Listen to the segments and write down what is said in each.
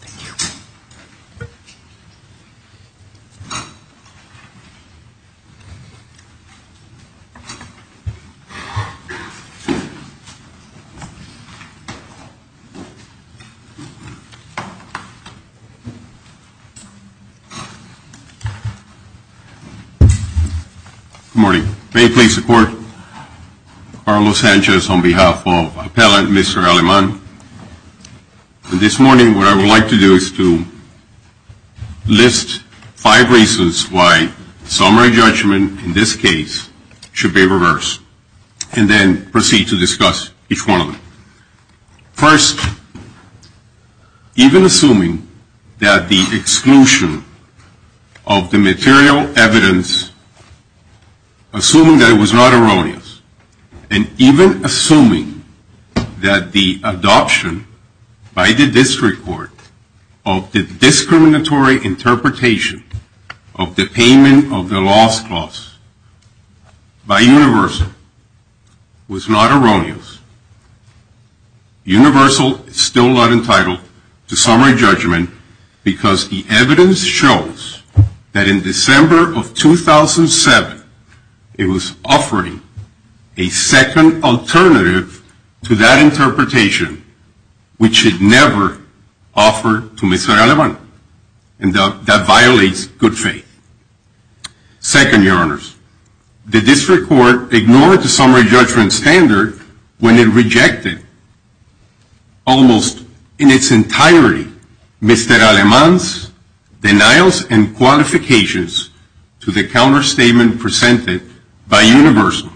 Thank you. Good morning. May it please the Court, Carlos Sanchez on behalf of this morning what I would like to do is to list five reasons why summary judgment in this case should be reversed and then proceed to discuss each one of them. First, even assuming that the exclusion of the material evidence, assuming that it was not erroneous, and even assuming that the adoption by the district court of the discriminatory interpretation of the payment of the loss clause by Universal was not erroneous, Universal is still not entitled to summary judgment because the evidence shows that in December of 2007 it was offering a second alternative to that interpretation which it never offered to Mr. Alemán and that violates good faith. Second, Your Honors, the district court ignored the summary judgment standard when it rejected almost in its entirety Mr. Alemán's denials and qualifications to the counter statement presented by Universal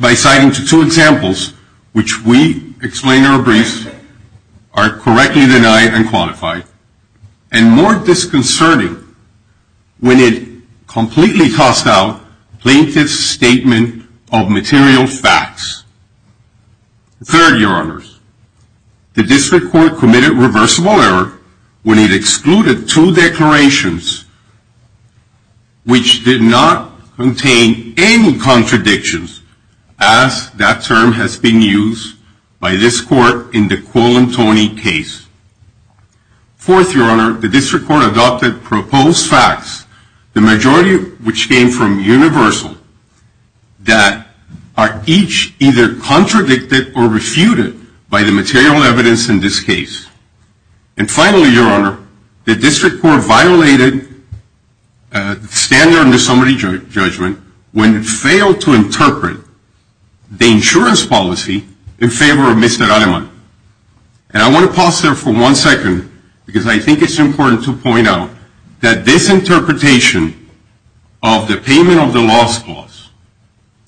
by citing two examples which we explained in our briefs are correctly denied and qualified and more disconcerting when it completely tossed out plaintiff's statement of material facts. Third, Your Honors, the district court committed reversible error when it excluded two declarations which did not contain any contradictions as that term has been used by this court in the Quill and Toney case. Fourth, Your Honor, the district court adopted proposed facts, the majority of which came from Universal that are each either contradicted or refuted by the material evidence in this case. And finally, Your Honor, the district court violated standard in the summary judgment when it failed to interpret the insurance policy in favor of Mr. Alemán. And I want to pause there for one second because I think it's important to point out that this interpretation of the payment of the loss clause,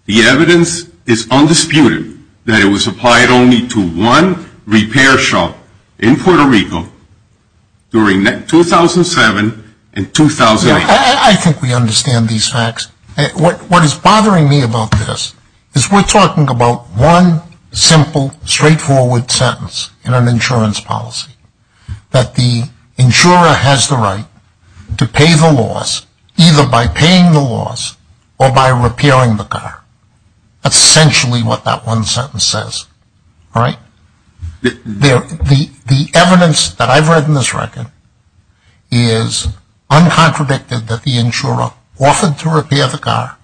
the evidence is undisputed that it was applied only to one repair shop in Puerto Rico during 2007 and 2008. I think we understand these facts. What is bothering me about this is we're talking about one simple, straightforward sentence in an insurance policy that the insurer has the right to pay the loss either by paying the loss or by repairing the car. That's essentially what that one sentence says. The evidence that I've read in this record is uncontradicted that the insurer offered to repair the car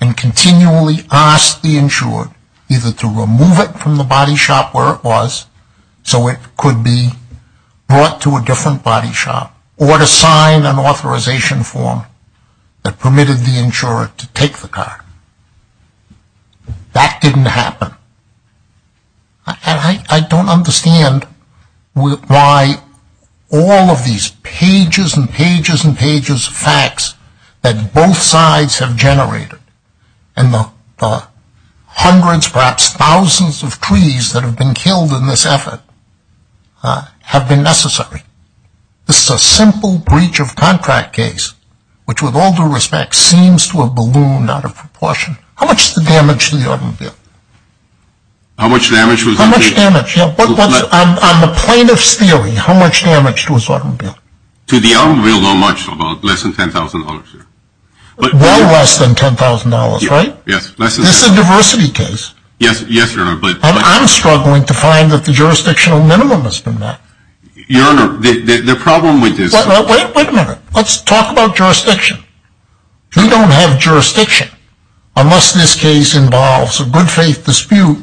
and continually asked the insurer either to remove it from the body shop where it was so it could be brought to a different body shop or to sign an authorization form that permitted the insurer to take the car. That didn't happen. I don't understand why all of these pages and pages and pages of facts that both sides have generated and the hundreds, perhaps thousands of trees that have been killed in this effort have been necessary. This is a simple breach of contract case which with all due respect seems to have ballooned out in proportion. How much is the damage to the automobile? How much damage? On the plaintiff's theory, how much damage to his automobile? To the automobile, not much, about less than $10,000. Well less than $10,000, right? This is a diversity case. And I'm struggling to find that the jurisdictional minimum has been met. Wait a minute. Let's talk about jurisdiction. We don't have jurisdiction unless this case involves a good faith dispute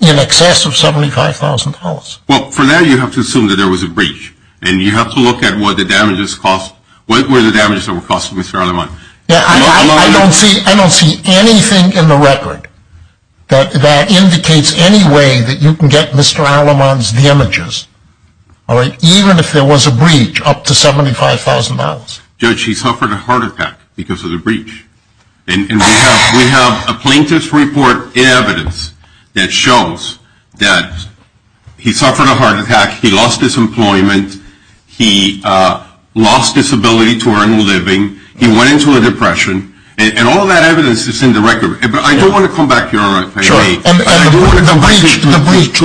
in excess of $75,000. Well, for that you have to assume that there was a breach. And you have to look at what the damages cost, what were the damages that were cost to Mr. Aleman. I don't see anything in the record that indicates any way that you can get Mr. Aleman's damages, even if there was a breach up to $75,000. Judge, he suffered a heart attack because of the breach. And we have a plaintiff's report in evidence that shows that he suffered a heart attack, he lost his employment, he lost his ability to earn a living, he went into a depression. And all of that evidence is in the record. But I do want to come back here. And the breach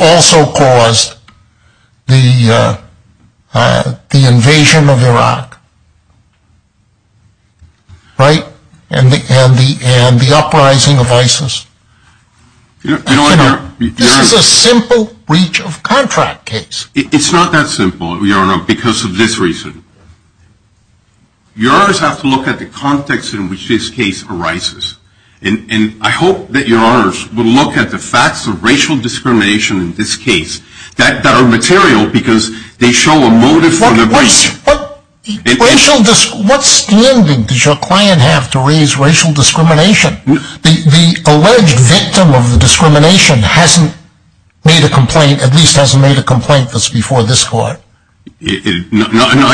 also caused the invasion of Iraq. Right? And the uprising of ISIS. This is a simple breach of contract case. It's not that simple, Your Honor, because of this reason. You always have to look at the context in which this case arises. And I hope that Your Honors will look at the facts of racial discrimination in this case that are material because they show a motive for the breach. What standing does your client have to raise racial discrimination? The alleged victim of the discrimination hasn't made a complaint, at least hasn't made a complaint that's before this court. No,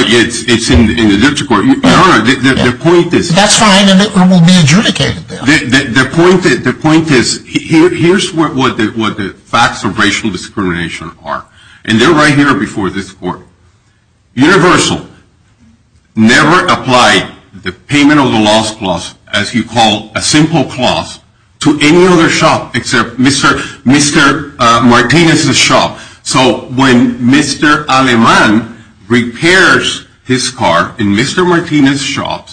it's in the district court. Your Honor, the point is... That's fine, and it will be adjudicated then. The point is, here's what the facts of racial discrimination are. And they're right here before this court. Universal. Never apply the payment of the loss clause except Mr. Martinez's shop. So when Mr. Aleman repairs his car in Mr. Martinez's shop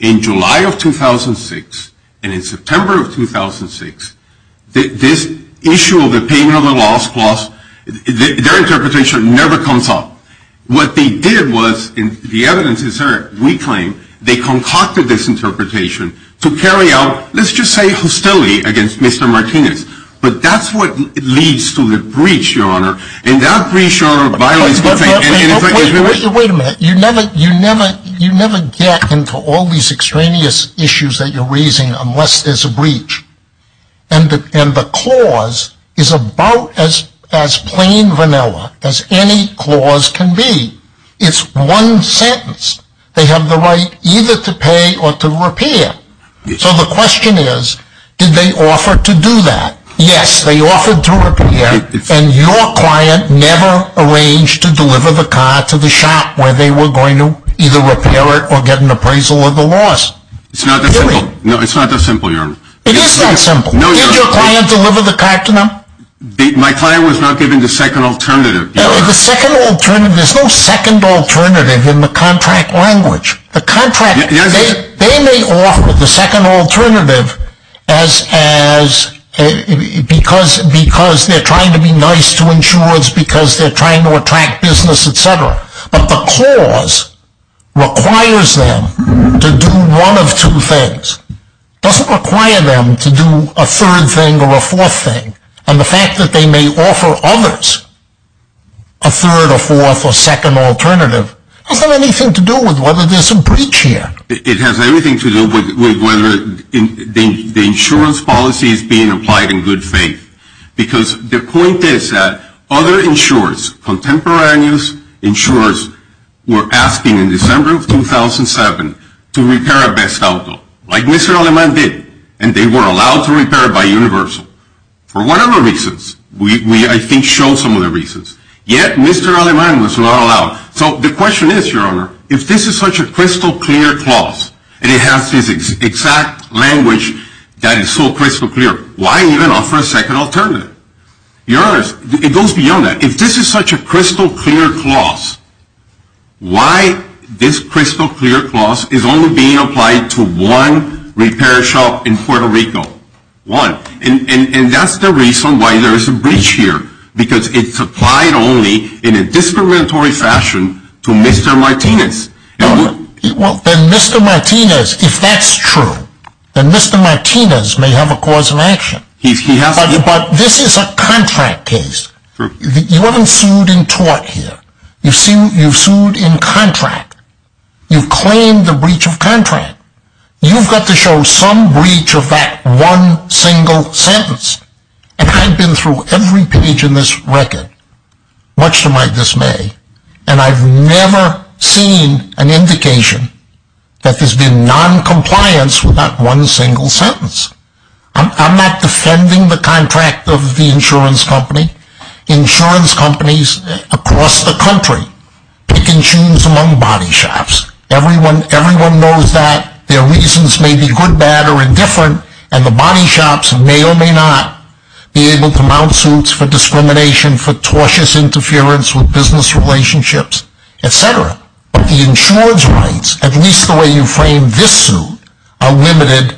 in July of 2006 and in September of 2006, this issue of the payment of the loss clause, their interpretation never comes up. What they did was, and the evidence is there, we claim, they concocted this interpretation to carry out, let's just say hostility against Mr. Martinez. But that's what leads to the breach, Your Honor. And that breach, Your Honor, violates... Wait a minute. You never get into all these extraneous issues that you're raising unless there's a breach. And the clause is about as plain vanilla as any clause can be. It's one sentence. They have the right either to pay or to repair. So the question is, did they offer to do that? Yes, they offered to repair. And your client never arranged to deliver the car to the shop where they were going to either repair it or get an appraisal of the loss. No, it's not that simple, Your Honor. It is that simple. Did your client deliver the car to them? My client was not given the second alternative. The second alternative... There's no second alternative in the contract language. They may offer the second alternative because they're trying to be nice to insurers, because they're trying to attract business, et cetera. But the clause requires them to do one of two things. It doesn't require them to do a third thing or a fourth thing. And the fact that they may offer others a third or fourth or second alternative doesn't have anything to do with whether there's a breach here. It has everything to do with whether the insurance policy is being applied in good faith. Because the point is that other insurers, contemporaneous insurers, were asking in December of 2007 to repair a best outcome, like Mr. Aleman did, and they were allowed to repair it by Universal, for whatever reasons. We, I think, show some of the reasons. Yet, Mr. Aleman was not allowed. So the question is, Your Honor, if this is such a crystal clear clause, and it has this exact language that is so crystal clear, why even offer a second alternative? Your Honor, it goes beyond that. If this is such a crystal clear clause, why this crystal clear clause is only being applied to one repair shop in Puerto Rico? One. And that's the reason why there is a breach here. Because it's applied only in a discriminatory fashion to Mr. Martinez. Then Mr. Martinez, if that's true, then Mr. Martinez may have a cause of action. But this is a contract case. You haven't sued and taught here. You've sued in contract. You've claimed a breach of contract. You've got to show some breach of that one single sentence. And I've been through every page in this record, much to my dismay, and I've never seen an indication that there's been noncompliance with that one single sentence. I'm not defending the contract of the insurance company. Insurance companies across the country pick and choose among body shops. Everyone knows that. Their reasons may be good, bad, or indifferent, and the body shops may or may not be able to mount suits for discrimination, for tortious interference with business relationships, etc. But the insurance rights, at least the way you framed this suit, are limited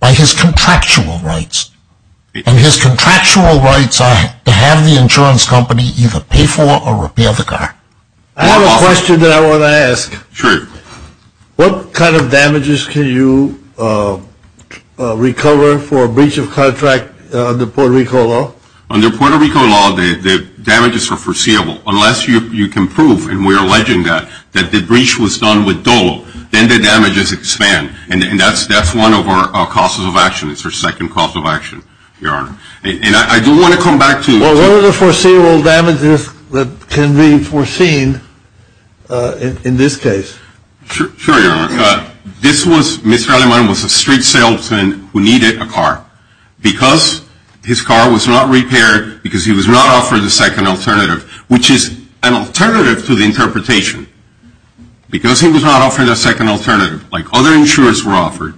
by his contractual rights. And his contractual rights are to have the insurance company either pay for or repeal the car. I have a question that I want to ask. Sure. What kind of damages can you recover for a breach of contract under Puerto Rico law? Under Puerto Rico law, the damages are foreseeable. Unless you can prove, and we're alleging that, that the breach was done with dolo, then the damages expand. And that's one of our causes of action. It's our second cause of action, Your Honor. And I do want to come back to... Well, what are the foreseeable damages that can be foreseen in this case? Sure, Your Honor. Mr. Aleman was a street salesman who needed a car. Because his car was not repaired, because he was not offered a second alternative, which is an alternative to the interpretation. Because he was not offered a second alternative, like other insurers were offered,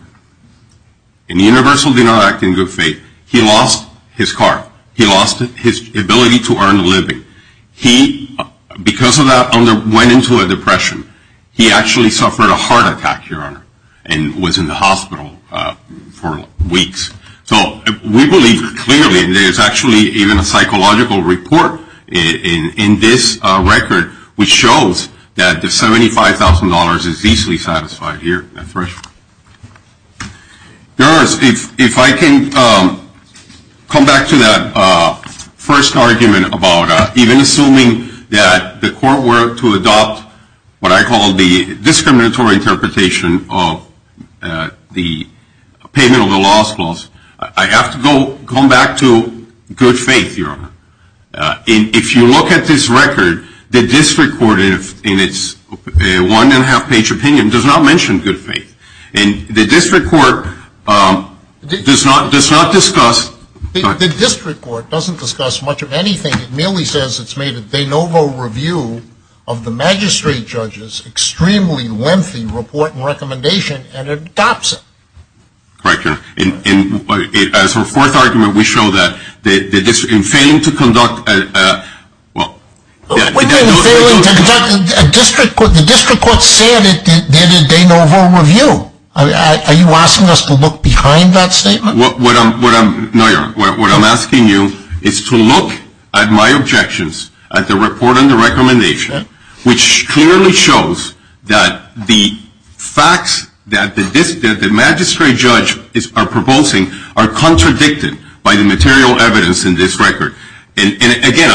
and Universal did not act in good faith, he lost his car. He lost his ability to earn a living. He, because of that, went into a depression. He actually suffered a heart attack, Your Honor, and was in the hospital for weeks. So we believe clearly, and there's actually even a psychological report in this record, which shows that the $75,000 is easily satisfied here. That's right. Your Honor, if I can come back to that first argument about even assuming that the court were to adopt what I call the discriminatory interpretation of the payment of the loss clause, I have to come back to good faith, Your Honor. If you look at this record, the district court in its one-and-a-half-page opinion does not mention good faith. And the district court does not discuss... The district court doesn't discuss much of anything. It merely says it's made a de novo review of the magistrate judge's extremely lengthy report and recommendation and adopts it. Correct, Your Honor. As a fourth argument, we show that in failing to conduct... What do you mean failing to conduct? The district court said it did a de novo review. Are you asking us to look behind that statement? No, Your Honor. What I'm asking you is to look at my objections at the report and the recommendation, which clearly shows that the facts that the magistrate judge are proposing are contradicted by the material evidence in this record. And again,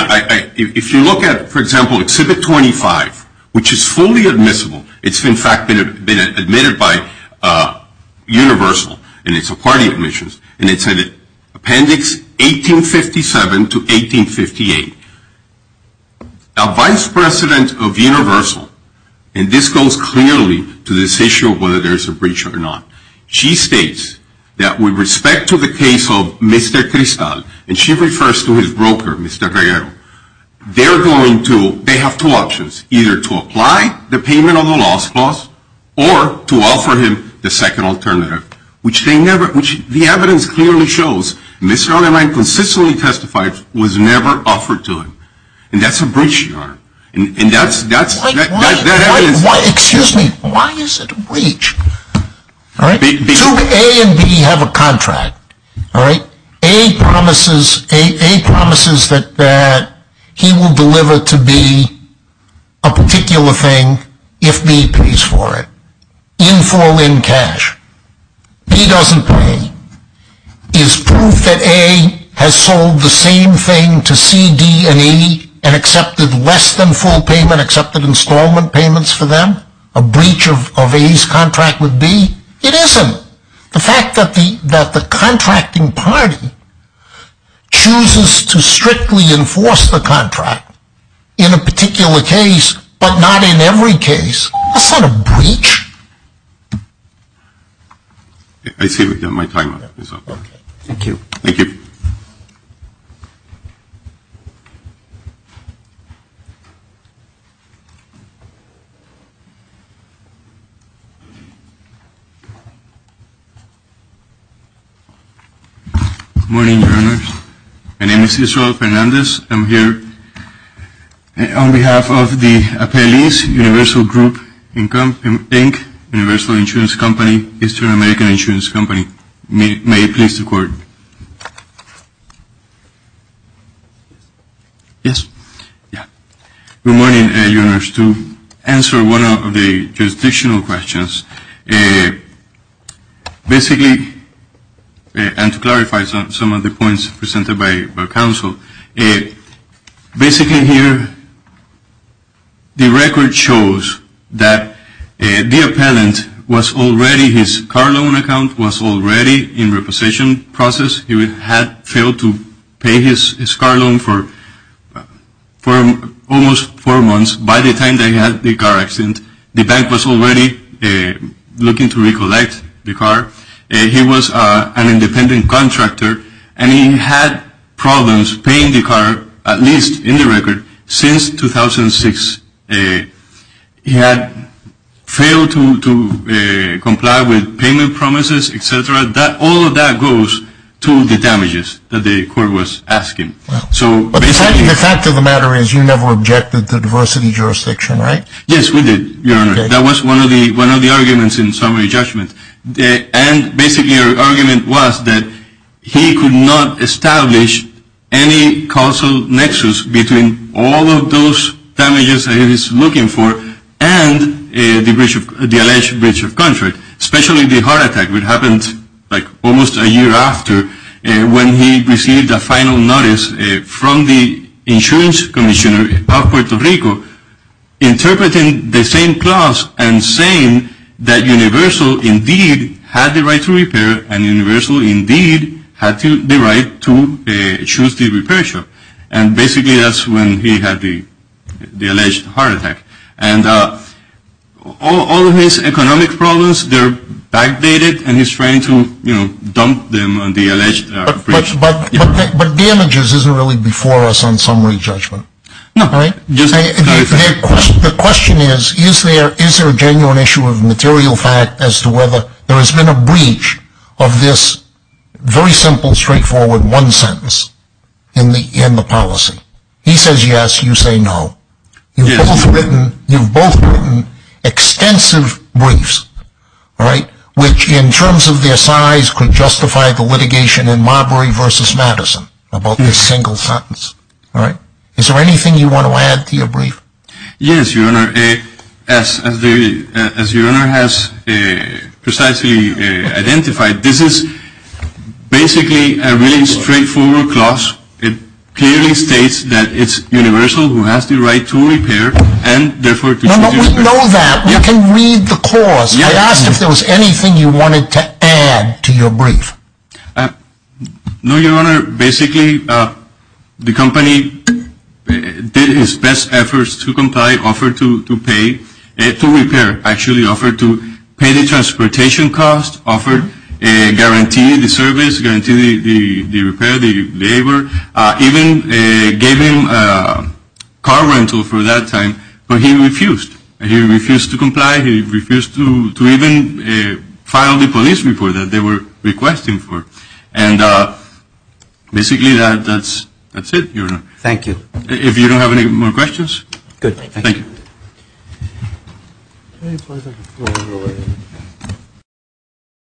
if you look at, for example, Exhibit 25, which is fully admissible. It's, in fact, been admitted by Universal, and it's a party admissions, and it's in Appendix 1857 to 1858. Our vice president of Universal, and this goes clearly to this issue of whether there's a breach or not, she states that with respect to the case of Mr. Cristal, and she refers to his broker, Mr. Guerrero, they have two options, either to apply the payment of the loss clause or to offer him the second alternative, which the evidence clearly shows Mr. Allermeyer consistently testified was never offered to him. And that's a breach, Your Honor. And that evidence... Excuse me, why is it a breach? Do A and B have a contract? A promises that he will deliver to B a particular thing if B pays for it, in full, in cash. B doesn't pay. Is proof that A has sold the same thing to C, D, and E and accepted less than full payment, accepted installment payments for them, a breach of A's contract with B? It isn't. The fact that the contracting party chooses to strictly enforce the contract in a particular case, but not in every case, that's not a breach. I see my time is up. Thank you. Thank you. Good morning, Your Honors. My name is Israel Fernandez. I'm here on behalf of the Appellees Universal Group Inc., Universal Insurance Company, Eastern American Insurance Company. May I please record? Yes? Yeah. Good morning, Your Honors. To answer one of the jurisdictional questions, basically, and to clarify some of the points presented by counsel, basically here, the record shows that the appellant was already, his car loan account was already in repossession process. He had failed to pay his car loan for almost four months. By the time they had the car accident, the bank was already looking to recollect the car. He was an independent contractor, and he had problems paying the car, at least in the record, since 2006. He had failed to comply with payment promises, et cetera. All of that goes to the damages that the court was asking. The fact of the matter is you never objected to diversity jurisdiction, right? Yes, we did, Your Honor. That was one of the arguments in summary judgment, and basically our argument was that he could not establish any causal nexus between all of those damages that he was looking for and the alleged breach of contract, especially the heart attack that happened like almost a year after when he received a final notice from the insurance commissioner of Puerto Rico interpreting the same clause and saying that Universal indeed had the right to repair and Universal indeed had the right to choose the repair shop. And basically that's when he had the alleged heart attack. And all of his economic problems, they're backdated, and he's trying to, you know, dump them on the alleged breach. But damages isn't really before us on summary judgment, right? The question is, is there a genuine issue of material fact as to whether there has been a breach of this very simple, straightforward one sentence in the policy? He says yes, you say no. You've both written extensive briefs, right, which in terms of their size could justify the litigation in Marbury v. Madison about this single sentence, right? Is there anything you want to add to your brief? Yes, Your Honor, as Your Honor has precisely identified, this is basically a really straightforward clause. It clearly states that it's Universal who has the right to repair and therefore to choose the repair shop. We know that. We can read the clause. I asked if there was anything you wanted to add to your brief. No, Your Honor. Basically, the company did its best efforts to comply, offered to pay, to repair, actually offered to pay the transportation cost, offered a guarantee, the service guarantee, the repair, the labor, even gave him car rental for that time, but he refused. He refused to comply. He refused to even file the police report that they were requesting for. And basically, that's it, Your Honor. Thank you. If you don't have any more questions? Good. Thank you.